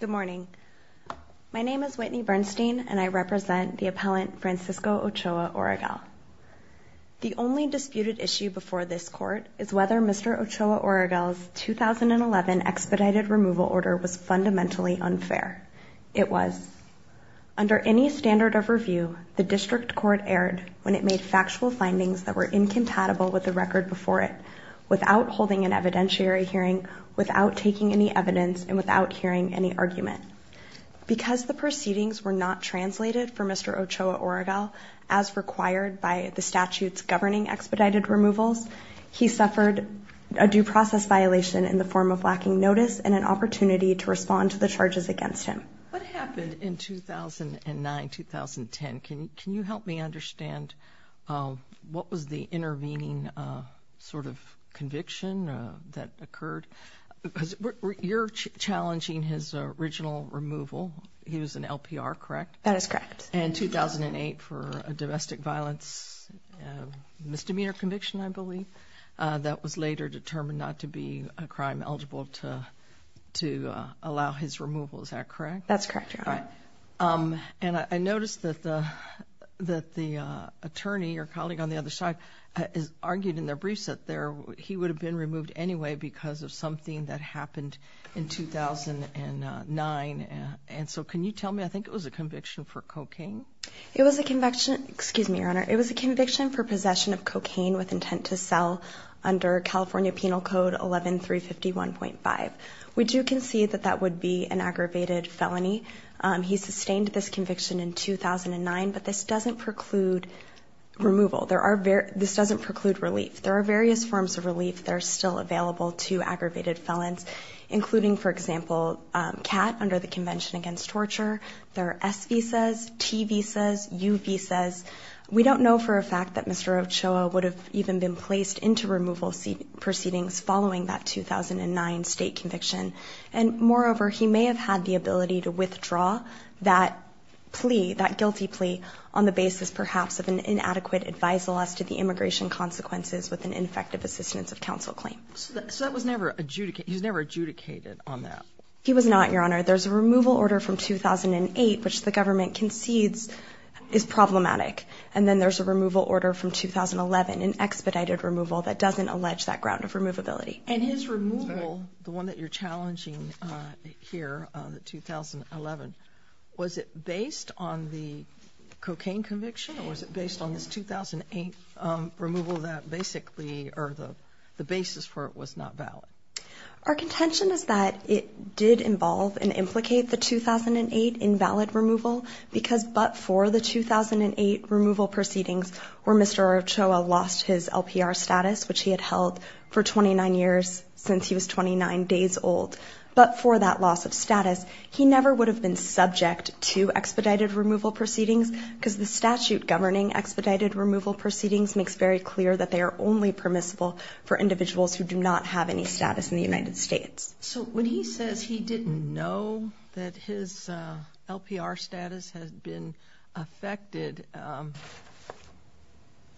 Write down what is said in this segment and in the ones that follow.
Good morning. My name is Whitney Bernstein and I represent the appellant Francisco Ochoa-Oregel. The only disputed issue before this Court is whether Mr. Ochoa-Oregel's 2011 expedited removal order was fundamentally unfair. It was. Under any standard of review, the District Court erred when it made factual findings that were incompatible with the record before it, without holding an evidentiary hearing, without taking any evidence, and without hearing any argument. Because the proceedings were not translated for Mr. Ochoa-Oregel as required by the statute's governing expedited removals, he suffered a due process violation in the form of lacking notice and an opportunity to respond to the charges against him. What happened in 2009-2010? Can you help me understand what was the intervening sort of conviction that occurred? You're challenging his original removal. He was an LPR, correct? That is correct. And 2008 for a domestic violence misdemeanor conviction, I believe, that was later determined not to be a crime eligible to allow his removal, is that correct? That's correct, Your Honor. And I noticed that the attorney, your colleague on the other side, argued in their briefs that he would have been removed anyway because of something that happened in 2009. And so can you tell me, I think it was a conviction for cocaine? It was a conviction, excuse me, Your Honor, it was a conviction for possession of cocaine with intent to sell under California Penal Code 11351.5. We do concede that that would be an aggravated felony. He sustained this conviction in 2009, but this doesn't preclude removal. This doesn't preclude relief. There are various forms of relief that are still available to aggravated felons, including, for example, CAT under the Convention Against Torture. There are S visas, T visas, U visas. We don't know for a fact that Mr. Ochoa would have even been placed into removal proceedings following that 2009 state conviction. And moreover, he may have had the ability to withdraw that plea, that guilty plea, on the basis perhaps of an inadequate advisal as to the immigration consequences with an Infective Assistance of Counsel claim. So that was never adjudicated, he was never adjudicated on that? He was not, Your Honor. There's a removal order from 2008, which the government concedes is problematic. And then there's a removal order from 2011, an expedited removal that doesn't allege that ground of removability. And his removal, the one that you're challenging here, the 2011, was it based on the cocaine conviction or was it based on this 2008 removal that basically, or the basis for it was not valid? Our contention is that it did involve and implicate the 2008 invalid removal because but for the 2008 removal proceedings where Mr. Ochoa lost his LPR status, which he had held for 29 years since he was 29 days old, but for that loss of status, he never would have been subject to expedited removal proceedings because the statute governing expedited removal proceedings makes very clear that they are only permissible for individuals who do not have any status in the United States. So when he says he didn't know that his LPR status had been affected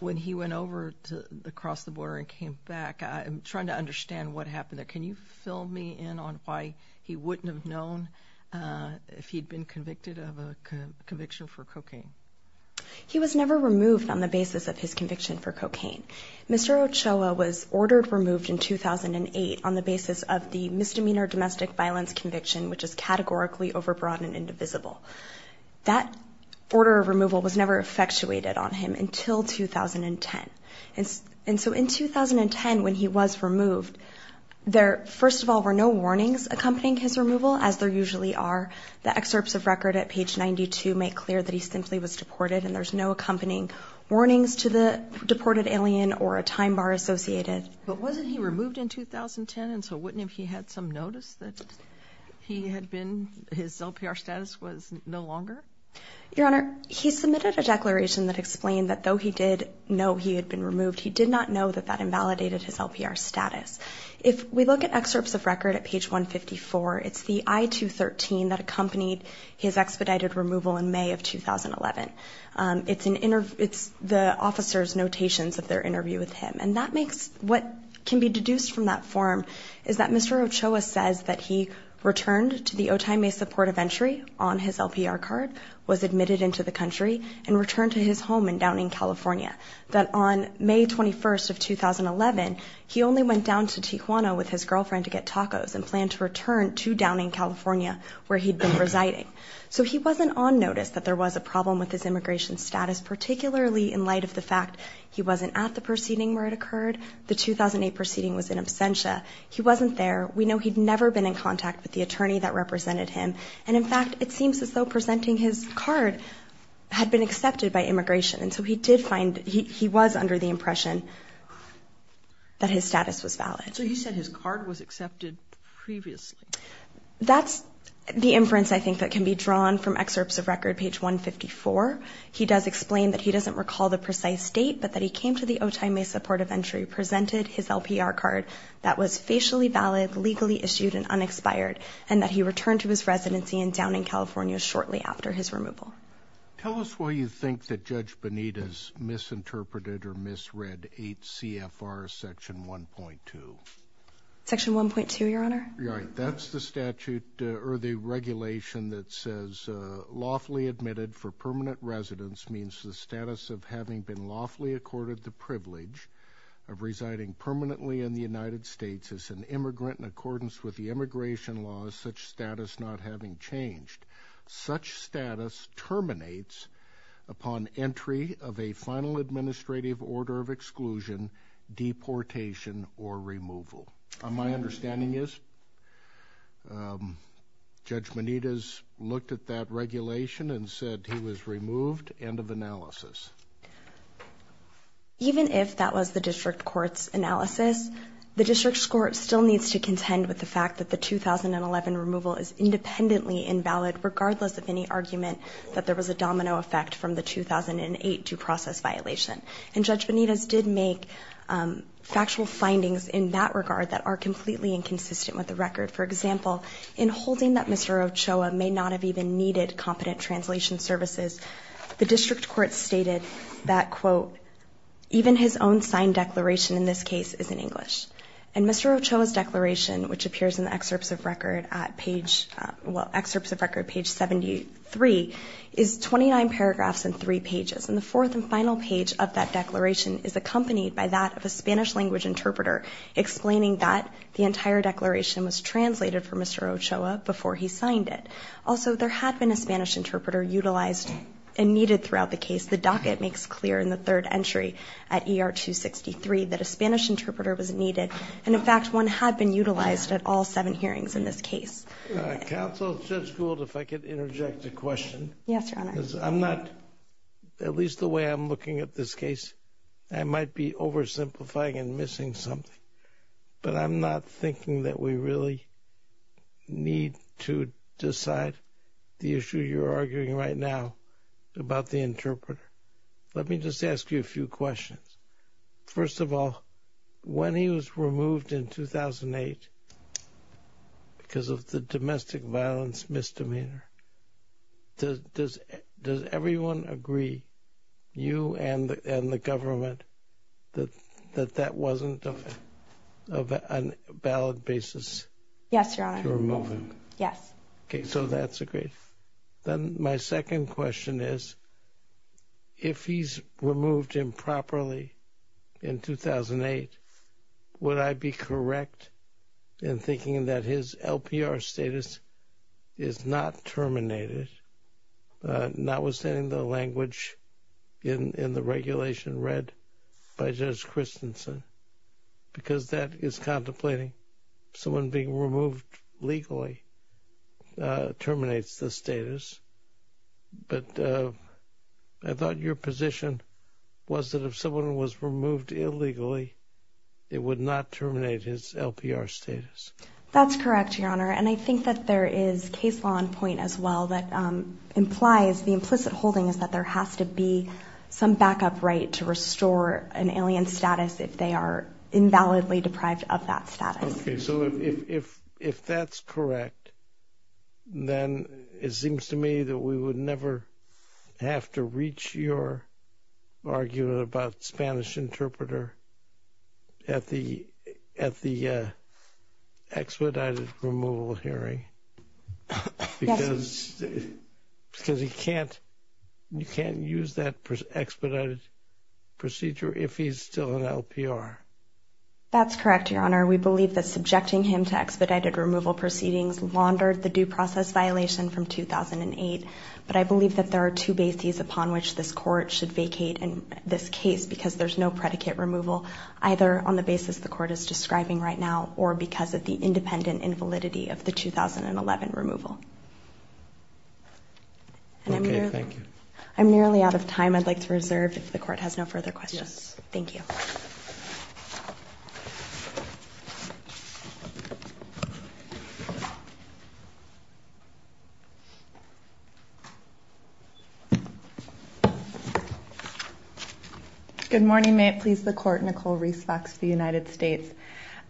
when he went over to across the border and came back, I'm trying to understand what happened there. Can you fill me in on why he wouldn't have known if he'd been convicted of a conviction for cocaine? He was never removed on the basis of his conviction for cocaine. Mr. Ochoa was ordered removed in 2008 on the basis of the misdemeanor domestic violence conviction, which is categorically overbroad and indivisible. That order of removal was never effectuated on him until 2010. And so in 2010 when he was removed, there first of all were no warnings accompanying his removal as there usually are. The excerpts of record at page 92 make clear that he simply was deported and there's no accompanying warnings to the deported alien or a time bar associated. But wasn't he removed in 2010 and so wouldn't if he had some notice that he had been, his LPR status was no longer? Your Honor, he submitted a declaration that explained that though he did know he had been removed, he did not know that that invalidated his LPR status. If we look at excerpts of record at page 154, it's the I-213 that accompanied his expedited removal in May of 2011. It's the officer's notations of their interview with him. And that makes, what can be deduced from that form is that Mr. Ochoa says that he returned to the Otay Mesa Port of Entry on his LPR card, was admitted into the country, and returned to his home in Downing, California. That on May 21st of 2011, he only went down to Tijuana with his girlfriend to get tacos and planned to return to Downing, California where he'd been residing. So he wasn't on with his immigration status, particularly in light of the fact he wasn't at the proceeding where it occurred. The 2008 proceeding was in absentia. He wasn't there. We know he'd never been in contact with the attorney that represented him. And in fact, it seems as though presenting his card had been accepted by immigration. And so he did find, he was under the impression that his status was valid. So you said his card was accepted previously? That's the inference I think that can be drawn from excerpts of record page 154. He does explain that he doesn't recall the precise date, but that he came to the Otay Mesa Port of Entry, presented his LPR card that was facially valid, legally issued, and unexpired, and that he returned to his residency in Downing, California shortly after his removal. Tell us why you think that Judge Bonita's misinterpreted or misread 8 CFR section 1.2. Section 1.2, Your Honor. Right. That's the statute or the regulation that says lawfully admitted for permanent residence means the status of having been lawfully accorded the privilege of residing permanently in the United States as an immigrant in accordance with the immigration laws, such status not having changed. Such status terminates upon entry of a final administrative order of exclusion, deportation, or removal. My understanding is Judge Bonita's looked at that regulation and said he was removed. End of analysis. Even if that was the district court's analysis, the district's court still needs to contend with the fact that the 2011 removal is independently invalid regardless of any argument that there was. Judge Bonita's did make factual findings in that regard that are completely inconsistent with the record. For example, in holding that Mr. Ochoa may not have even needed competent translation services, the district court stated that, quote, even his own signed declaration in this case is in English. And Mr. Ochoa's declaration, which appears in the excerpts of record at page, well, excerpts of record page 73, is 29 paragraphs and 3 pages. And the fourth and final page of that declaration is accompanied by that of a Spanish language interpreter explaining that the entire declaration was translated for Mr. Ochoa before he signed it. Also, there had been a Spanish interpreter utilized and needed throughout the case. The docket makes clear in the third entry at ER 263 that a Spanish interpreter was needed. And in fact, one had been utilized at all seven hearings in this case. Counsel, Judge Gould, if I could interject a question. Yes, Your Honor. I'm not, at least the way I'm looking at this case, I might be oversimplifying and missing something. But I'm not thinking that we really need to decide the issue you're arguing right now about the interpreter. Let me just ask you a few questions. First of all, when he was removed in 2008 because of the domestic violence misdemeanor, does everyone agree, you and the government, that that wasn't of a valid basis to remove him? Yes, Your Honor. Okay, so that's agreed. Then my second question is, if he's removed improperly in 2008, would I be correct in thinking that his LPR status is not terminated, notwithstanding the language in the regulation read by Judge Christensen? Because that is contemplating someone being removed legally terminates the status. But I thought your position was that if someone was removed illegally, it would not terminate his LPR status. That's correct, Your Honor. And I think that there is case law in point as well that implies the implicit holding is that there has to be some backup right to restore an alien status if they are invalidly deprived of that status. Okay, so if that's correct, then it seems to me that we would never have to reach your argument about Spanish interpreter at the expedited removal hearing because you can't use that expedited procedure if he's still an LPR. That's correct, Your Honor. We believe that subjecting him to expedited removal proceedings laundered the due process violation from 2008. But I believe that there are two bases upon which this Court should vacate in this case because there's no predicate removal, either on the basis the Court is describing right now or because of the independent invalidity of the 2011 removal. Okay, thank you. I'm nearly out of time. I'd like to reserve if the Court has no further questions. Thank you. Good morning. May it please the Court, Nicole Reese Fox of the United States.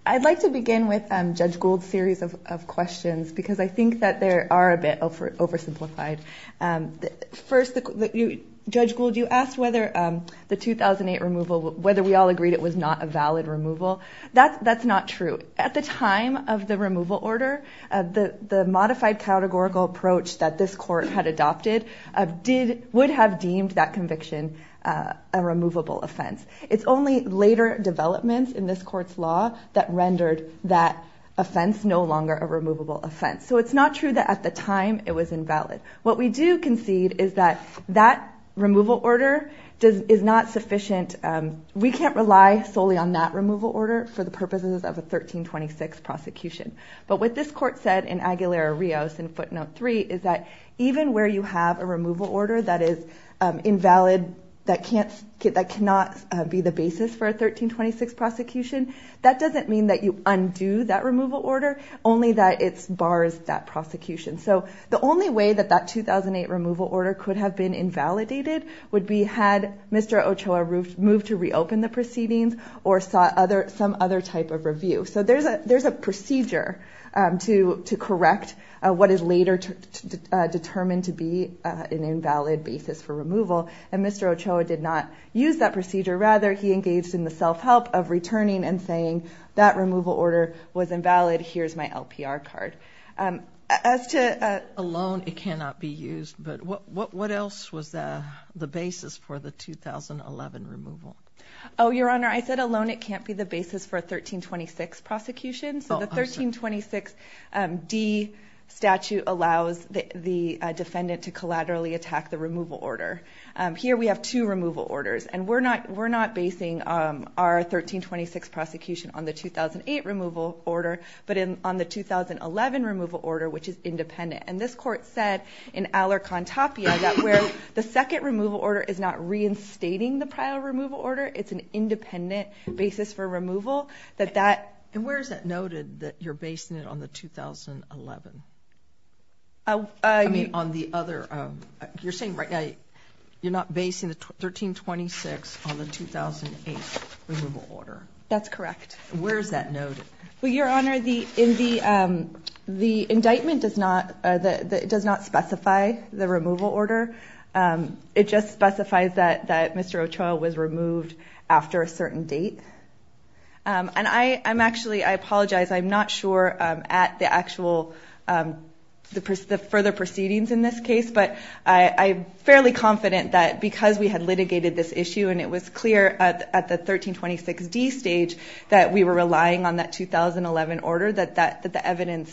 I'd like to begin with Judge Gould's series of questions because I think that they are a bit oversimplified. First, Judge Gould, you asked whether the 2008 removal, whether we all agreed it was not a valid removal. That's not true. At the time of the removal order, the modified categorical approach that this Court had adopted would have deemed that conviction a removable offense. It's only later developments in this Court's law that rendered that offense no longer a removable offense. So it's not true that at the time it was invalid. What we do concede is that that removal order is not sufficient. We can't rely solely on that removal order for the purposes of a 1326 prosecution. But what this Court said in Aguilera-Rios in footnote three is that even where you have a removal order that is invalid, that cannot be the basis for a 1326 prosecution, that doesn't mean that you undo that removal order, only that it bars that prosecution. So the only way that that 2008 removal order could have been invalidated would be had Mr. Ochoa moved to reopen the proceedings or sought some other type of determination to be an invalid basis for removal. And Mr. Ochoa did not use that procedure. Rather, he engaged in the self-help of returning and saying that removal order was invalid, here's my LPR card. As to alone, it cannot be used. But what else was the basis for the 2011 removal? Oh, Your Honor, I said alone it can't be the basis for a 1326 prosecution. So the 1326 D statute allows the defendant to collaterally attack the removal order. Here we have two removal orders. And we're not basing our 1326 prosecution on the 2008 removal order, but on the 2011 removal order, which is independent. And this Court said in Alarcon-Tapia that where the second removal order is not reinstating the prior removal order, it's an independent basis for removal. And where is it noted that you're basing it on the 2011? You're saying right now you're not basing the 1326 on the 2008 removal order? That's correct. Where is that noted? Well, Your Honor, the indictment does not specify the removal order. It just specifies that Mr. Ochoa was removed after a certain date. And I'm actually, I apologize, I'm not sure at the actual further proceedings in this case, but I'm fairly confident that because we had litigated this issue and it was clear at the 1326 D stage that we were relying on that 2011 order, that the happened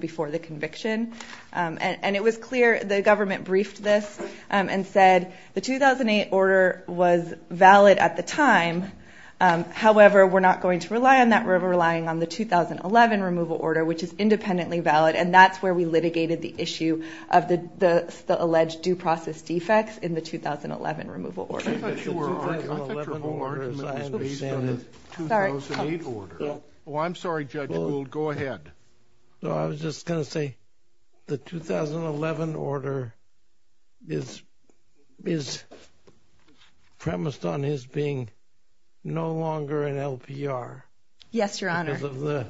before the conviction. And it was clear the government briefed this and said the 2008 order was valid at the time. However, we're not going to rely on that. We're relying on the 2011 removal order, which is independently valid. And that's where we litigated the issue of the alleged due process defects in the 2011 removal order. I thought your whole argument was based on the 2008 order. Oh, I'm sorry, Judge Gould. Go ahead. So I was just going to say the 2011 order is premised on his being no longer an LPR. Yes, Your Honor. Because of the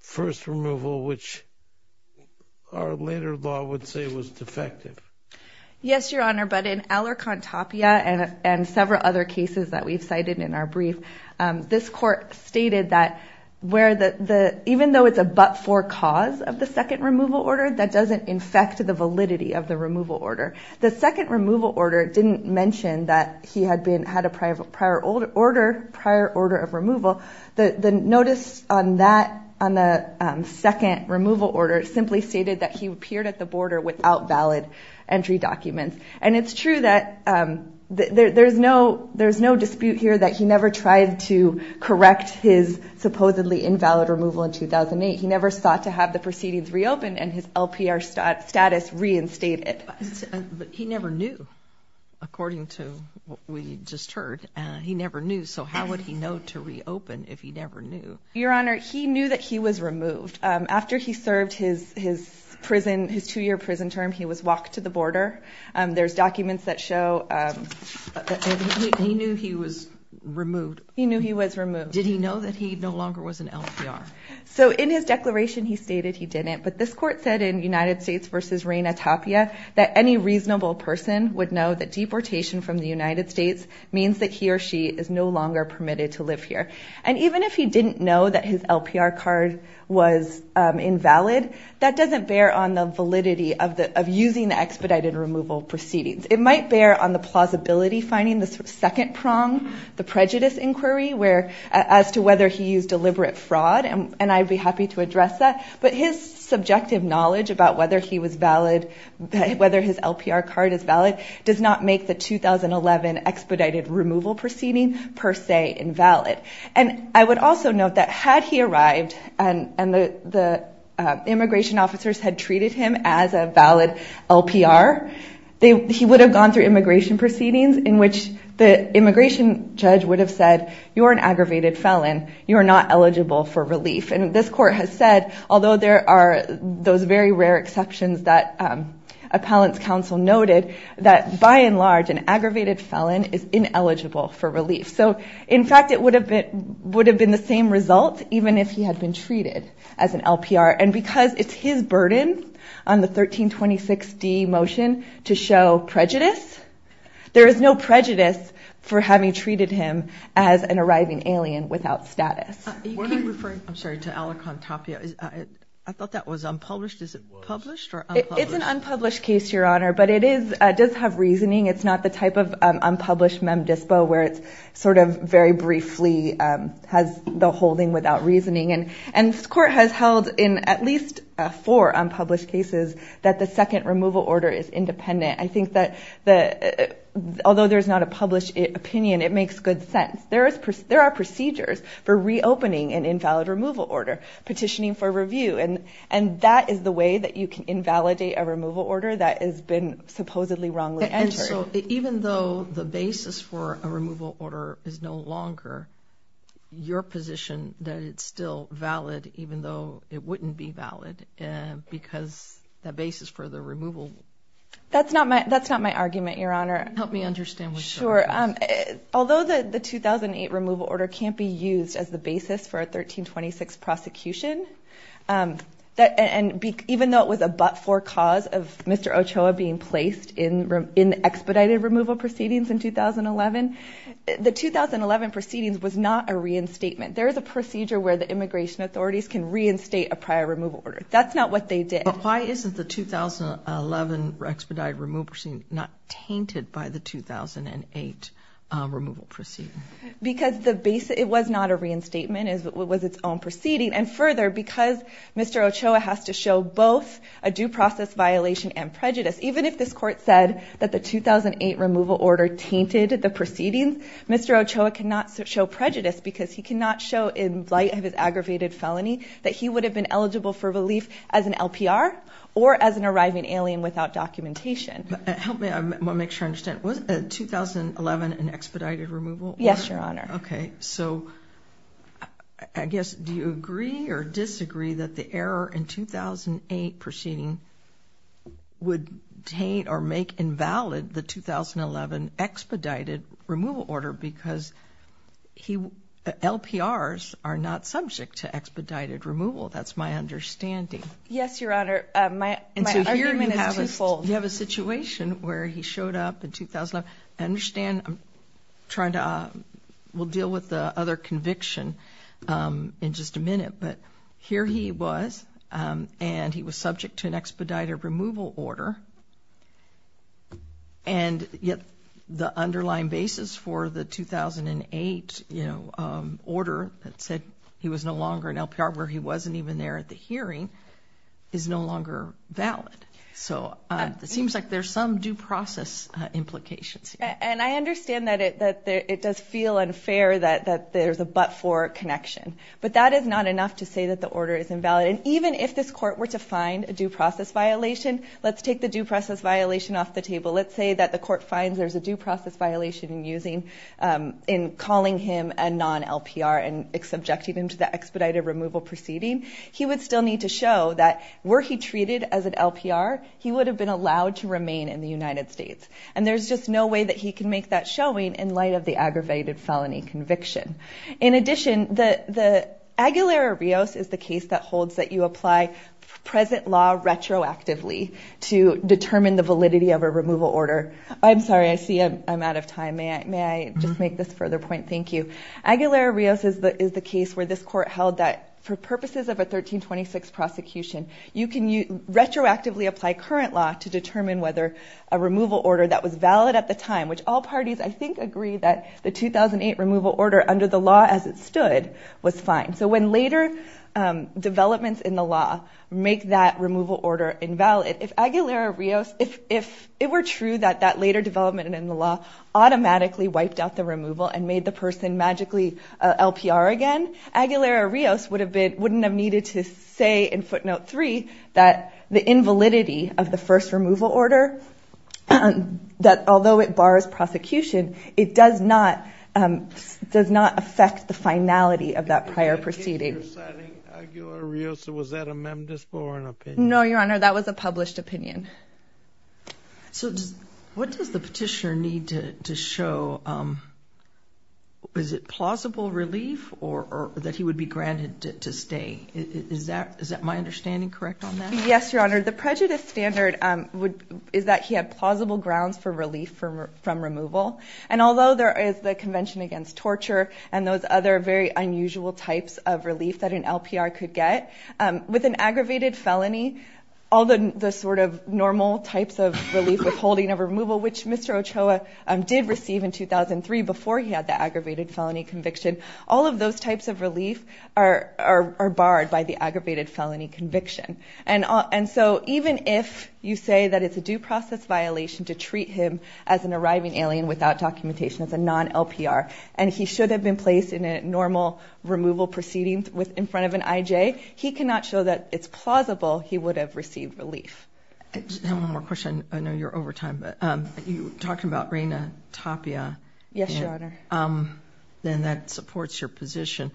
first removal, which our later law would say was defective. Yes, Your Honor. But in Alarcon Tapia and several other briefs, this court stated that even though it's a but-for cause of the second removal order, that doesn't infect the validity of the removal order. The second removal order didn't mention that he had a prior order of removal. The notice on the second removal order simply stated that he appeared at the border without valid entry documents. And it's true that there's no dispute here that he never tried to correct his supposedly invalid removal in 2008. He never sought to have the proceedings reopened and his LPR status reinstated. But he never knew, according to what we just heard. He never knew. So how would he know to reopen if he never knew? Your Honor, he knew that he was removed. After he served his prison, his two-year prison term, he was walked to the border. There's documents that show he knew he was removed. He knew he was removed. Did he know that he no longer was an LPR? So in his declaration, he stated he didn't. But this court said in United States v. Reina Tapia that any reasonable person would know that deportation from the United States means that he or she is no longer permitted to live here. And even if he didn't know that his LPR card was invalid, that doesn't bear on the validity of using the expedited removal proceedings. It might bear on the plausibility finding, the second prong, the prejudice inquiry as to whether he used deliberate fraud. And I'd be happy to address that. But his subjective knowledge about whether he was valid, whether his LPR card is valid, does not make the 2011 expedited removal proceeding per se invalid. And I would also note that had he been an LPR, he would have gone through immigration proceedings in which the immigration judge would have said you're an aggravated felon. You are not eligible for relief. And this court has said, although there are those very rare exceptions that appellant's counsel noted, that by and large, an aggravated felon is ineligible for relief. So in fact, it would have been the same result even if he had been treated as an LPR. And because it's his burden on the 1326D motion to show prejudice, there is no prejudice for having treated him as an arriving alien without status. You keep referring, I'm sorry, to Alicantopia. I thought that was unpublished. Is it published or unpublished? It's an unpublished case, Your Honor, but it does have reasoning. It's not the type of unpublished where it's sort of very briefly has the holding without reasoning. And this court has held in at least four unpublished cases that the second removal order is independent. I think that although there's not a published opinion, it makes good sense. There are procedures for reopening an invalid removal order, petitioning for review, and that is the way that you can invalidate a basis for a removal order is no longer your position that it's still valid, even though it wouldn't be valid because the basis for the removal... That's not my argument, Your Honor. Help me understand what you're saying. Sure. Although the 2008 removal order can't be used as the basis for a 1326 prosecution, and even though it was a but-for cause of Mr. Ochoa being placed in expedited removal proceedings in 2011, the 2011 proceedings was not a reinstatement. There is a procedure where the immigration authorities can reinstate a prior removal order. That's not what they did. But why isn't the 2011 expedited removal proceeding not tainted by the 2008 removal proceeding? Because it was not a reinstatement. It was its own proceeding. And further, because Mr. Ochoa has to show both a due process violation and prejudice, even if this said that the 2008 removal order tainted the proceedings, Mr. Ochoa cannot show prejudice because he cannot show in light of his aggravated felony that he would have been eligible for relief as an LPR or as an arriving alien without documentation. Help me make sure I understand. Was 2011 an expedited removal order? Yes, Your Honor. Okay, so I guess do you agree or disagree that the invalid the 2011 expedited removal order because LPRs are not subject to expedited removal? That's my understanding. Yes, Your Honor. My argument is twofold. You have a situation where he showed up in 2011. I understand. We'll deal with the other conviction in just a minute. But here he was, and he was subject to an expedited removal order. And yet the underlying basis for the 2008, you know, order that said he was no longer an LPR where he wasn't even there at the hearing is no longer valid. So it seems like there's some due process implications. And I understand that it does feel unfair that there's a but-for connection. But that is not enough to say that the order is invalid. And even if this court were to find a due process violation, let's take the due process violation off the table. Let's say that the court finds there's a due process violation in using in calling him a non-LPR and subjecting him to the expedited removal proceeding. He would still need to show that were he treated as an LPR, he would have been allowed to remain in the United States. And there's just no way that he can make that showing in light of the aggravated felony conviction. In addition, the Aguilera-Rios is the case that holds that you apply present law retroactively to determine the validity of a removal order. I'm sorry, I see I'm out of time. May I just make this further point? Thank you. Aguilera-Rios is the case where this court held that for purposes of a 1326 prosecution, you can retroactively apply current law to determine whether a removal order that was valid at the time, which all parties, I think, agree that the 2008 removal order under the law as it stood was fine. So when later developments in the law make that removal order invalid, if Aguilera-Rios, if it were true that that later development in the law automatically wiped out the removal and made the person magically LPR again, Aguilera-Rios would have been, wouldn't have needed to say in footnote three that the invalidity of the first order that although it bars prosecution, it does not affect the finality of that prior proceeding. No, your honor, that was a published opinion. So what does the petitioner need to show? Is it plausible relief or that he would be granted to stay? Is that my understanding correct on that? Yes, your honor. The prejudice standard is that he had plausible grounds for relief from removal. And although there is the convention against torture and those other very unusual types of relief that an LPR could get, with an aggravated felony, all the sort of normal types of relief withholding of removal, which Mr. Ochoa did receive in 2003 before he had the aggravated felony conviction, all of those types of relief are barred by the aggravated felony conviction. And so even if you say that it's a due process violation to treat him as an arriving alien without documentation, as a non-LPR, and he should have been placed in a normal removal proceeding with, in front of an IJ, he cannot show that it's plausible he would have received relief. I have one more question. I know you're over time, but you talked about Reina Tapia. Yes, your honor. Then that supports your position.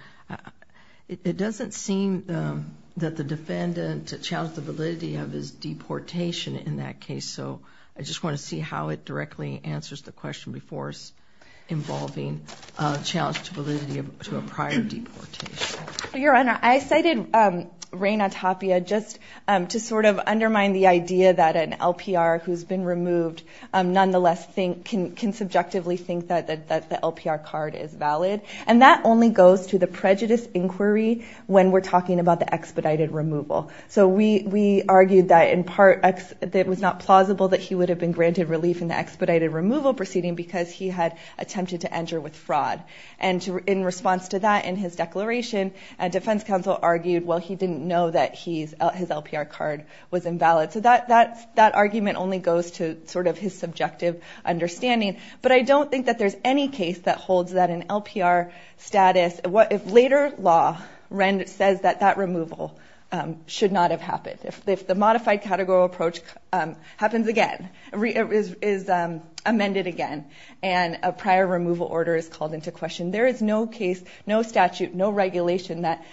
It doesn't seem that the defendant challenged the validity of his deportation in that case. So I just want to see how it directly answers the question before us involving a challenge to validity to a prior deportation. Your honor, I cited Reina Tapia just to sort of undermine the idea that an LPR who's been removed, nonetheless think, can subjectively think that the LPR card is valid. And that only goes to the prejudice inquiry when we're talking about the expedited removal. So we argued that in part that it was not plausible that he would have been granted relief in the expedited removal proceeding because he had attempted to enter with fraud. And in response to that, in his declaration, a defense counsel argued, well, he didn't know that his LPR card was invalid. So that argument only goes to sort of his subjective understanding. But I don't think that there's any case that holds that an LPR status, if later law says that that removal should not have happened. If the modified categorical approach happens again, is amended again, and a prior removal order is called into question, there is no case, no statute, no regulation that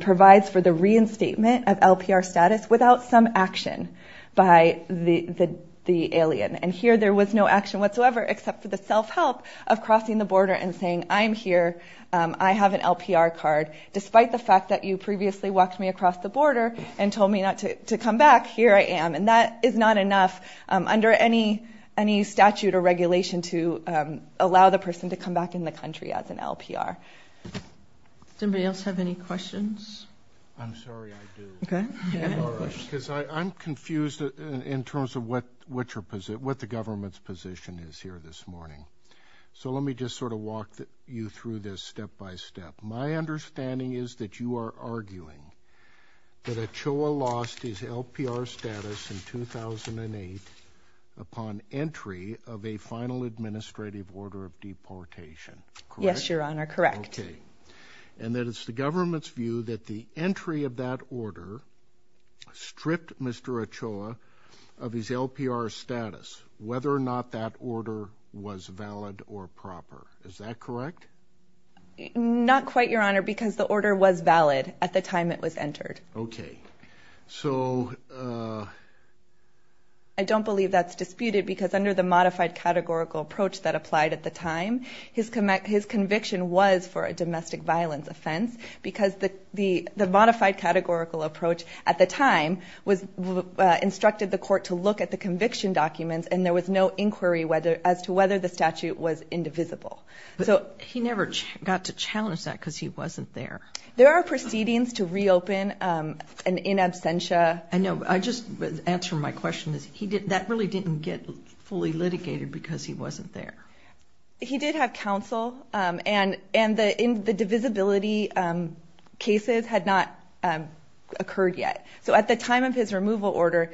provides for the reinstatement of LPR status without some action by the alien. And here there was no action whatsoever except for the self-help of crossing the border and saying, I'm here, I have an LPR card, despite the fact that you previously walked me across the border and told me not to come back, here I am. And that is not enough under any statute or regulation to allow the person to come back in the country as an LPR. Somebody else have any questions? I'm sorry, I do. Because I'm confused in terms of what the government's position is here this morning. So let me just sort of walk you through this step by step. My understanding is that you are arguing that Ochoa lost his LPR status in 2008 upon entry of a final administrative order of deportation. Yes, Your Honor, correct. Okay. And that it's the government's view that the entry of that order stripped Mr. Ochoa of his LPR status, whether or not that order was valid or proper. Is that correct? Not quite, Your Honor, because the order was valid at the time it was entered. Okay. So... I don't believe that's disputed because under the modified categorical approach that applied at the time, his conviction was for a domestic violence offense because the modified categorical approach at the time instructed the court to look at the conviction documents and there was no inquiry as to whether the statute was indivisible. But he never got to challenge that because he wasn't there. There are proceedings to reopen and in absentia... I know. I just answer my question is that really didn't get fully litigated because he wasn't there. He did have counsel and the divisibility cases had not occurred yet. So at the time of his removal order,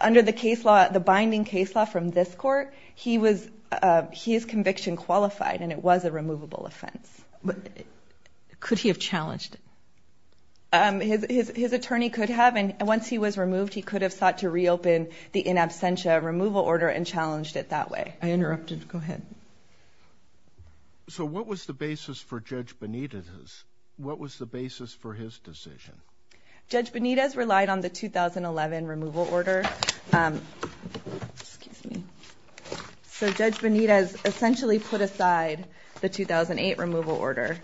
under the case law, the binding case law from this court, he was... his conviction qualified and it was a removable offense. But could he have challenged it? His attorney could have and once he was removed, he could have sought to reopen the in absentia removal order and challenged it that way. I interrupted. Go ahead. So what was the basis for Judge Benitez? What was the basis for his decision? Judge Benitez relied on the 2011 removal order. Excuse me. So Judge Benitez essentially put aside the 2008 removal order.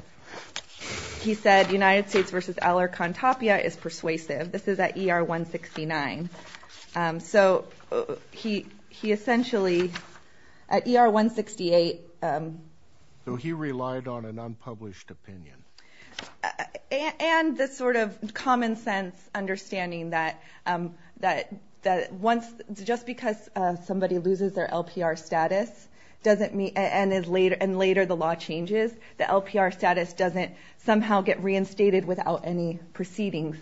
He said United States v. Alarcon Tapia is persuasive. This is at ER 169. So he essentially at ER 168... So he relied on an unpublished opinion. And the sort of common sense understanding that once... just because somebody loses their LPR status doesn't mean... and later the law changes, the LPR status doesn't somehow get reinstated without any proceedings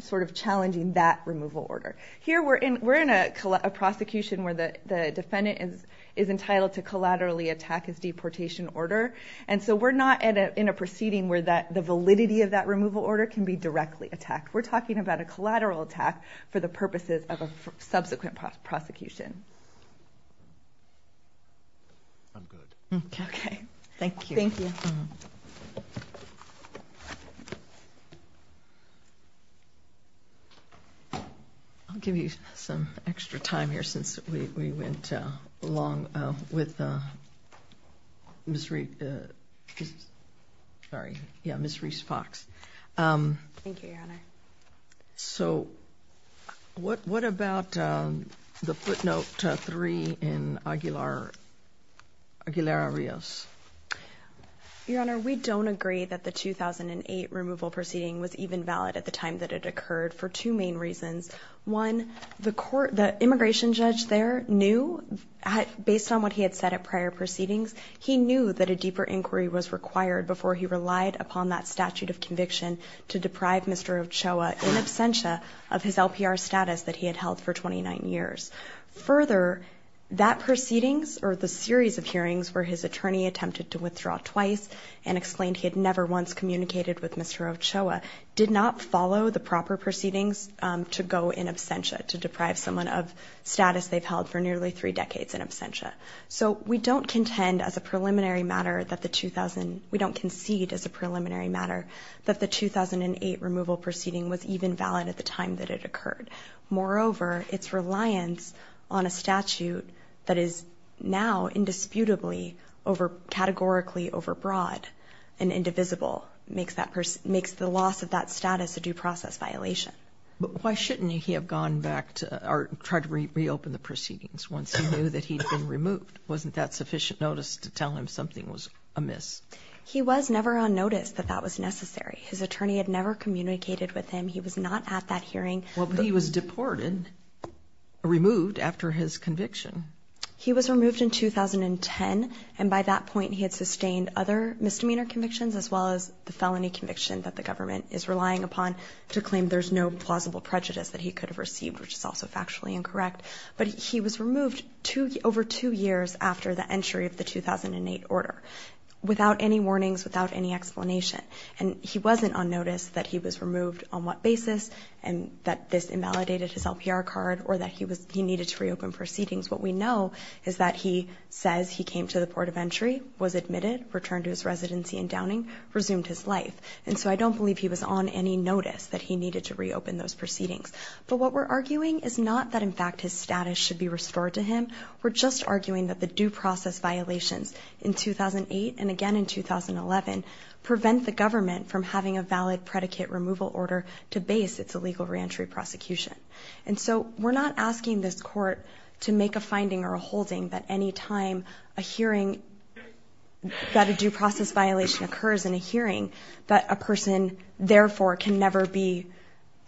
sort of challenging that removal order. Here we're in a prosecution where the defendant is entitled to collaterally attack his deportation order and so we're not in a proceeding where the validity of that removal order can be directly attacked. We're talking about a collateral attack for the purposes of a subsequent prosecution. Okay. Thank you. Thank you. I'll give you some extra time here since we went along with Ms. Reece... Sorry. Yeah, Ms. Reece Fox. Thank you, Your Honor. So what about the footnote three in Aguilar-Rios? Your Honor, we don't agree that the 2008 removal proceeding was even valid at the time that it occurred for two main reasons. One, the immigration judge there knew, based on what he had said at prior proceedings, he knew that a deeper inquiry was required before he relied upon that statute of conviction to deprive Mr. Ochoa in absentia of his LPR status that he had held for 29 years. Further, that proceedings, or the series of hearings where his attorney attempted to withdraw twice and explained he had never once communicated with Mr. Ochoa, did not follow the proper proceedings to go in absentia, to deprive someone of status they've held for nearly three decades in absentia. So we don't contend as a preliminary matter that the 2000... We don't concede as a preliminary matter that the 2008 removal proceeding was even valid at the time that it occurred. Moreover, its reliance on a statute that is now indisputably, categorically overbroad and indivisible makes the loss of that status a due process violation. But why shouldn't he have gone back to, or tried to reopen the proceedings once he knew that he'd been removed? Wasn't that sufficient notice to tell him something was amiss? He was never on notice that that was necessary. His attorney had never communicated with him. He was not at that hearing. Well, but he was deported, removed after his conviction. He was removed in 2010. And by that point, he had sustained other misdemeanor convictions, as well as the felony conviction that the government is relying upon to claim there's no plausible prejudice that he could have received, which is also factually incorrect. But he was removed over two years after the entry of the 2008 order, without any warnings, without any explanation. And he wasn't on notice that he was removed on what basis, and that this invalidated his LPR card, or that he needed to reopen proceedings. What we know is that he says he came to the port of entry, was admitted, returned to his residency in Downing, resumed his life. And so I don't believe he was on any notice that he needed to reopen those proceedings. But what we're arguing is not that, in fact, his status should be restored to him. We're just arguing that the due process violations in 2008, and again in 2011, prevent the government from having a valid predicate removal order to base its illegal re-entry prosecution. And so we're not asking this court to make a finding or a holding that any time a hearing, that a due process violation occurs in a hearing, that a person, therefore, can never be,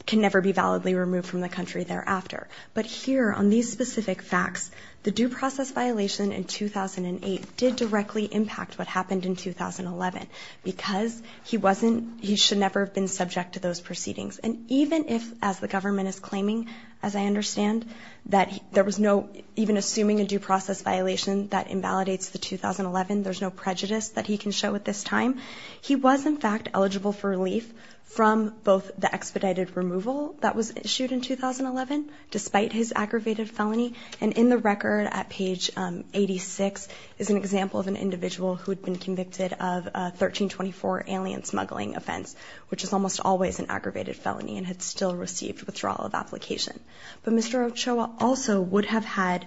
can never be validly removed from the country thereafter. But here, on these specific facts, the due process violation in 2008 did directly impact what happened in 2011, because he wasn't, he should never have been subject to those proceedings. And even if, as the government is claiming, as I understand, that there was no, even assuming a due process violation that invalidates the 2011, there's no prejudice that he can show at this time, he was in fact eligible for relief from both the expedited removal that was issued in 2011, despite his aggravated felony, and in the record at page 86 is an example of an individual who had been convicted of a 1324 alien smuggling offense, which is almost always an aggravated felony, and had still received withdrawal of application. But Mr. Ochoa also would have had,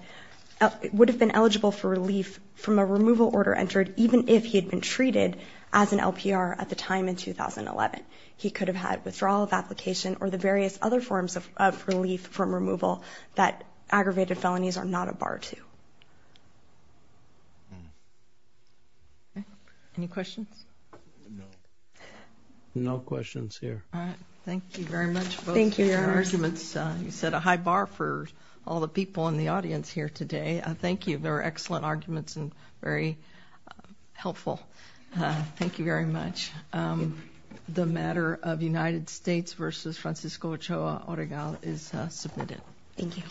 would have been eligible for relief from a removal order entered, even if he had been treated as an LPR at the time in 2011. He could have had withdrawal of application, or the various other forms of relief from removal that aggravated felonies are not a bar to. Any questions? No. No questions here. All right, thank you very much for your arguments. You set a high bar for all the people in the audience here today. Thank you, they're excellent arguments and very helpful. Thank you very much. The matter of United States versus Francisco Ochoa Oregal is submitted. Thank you.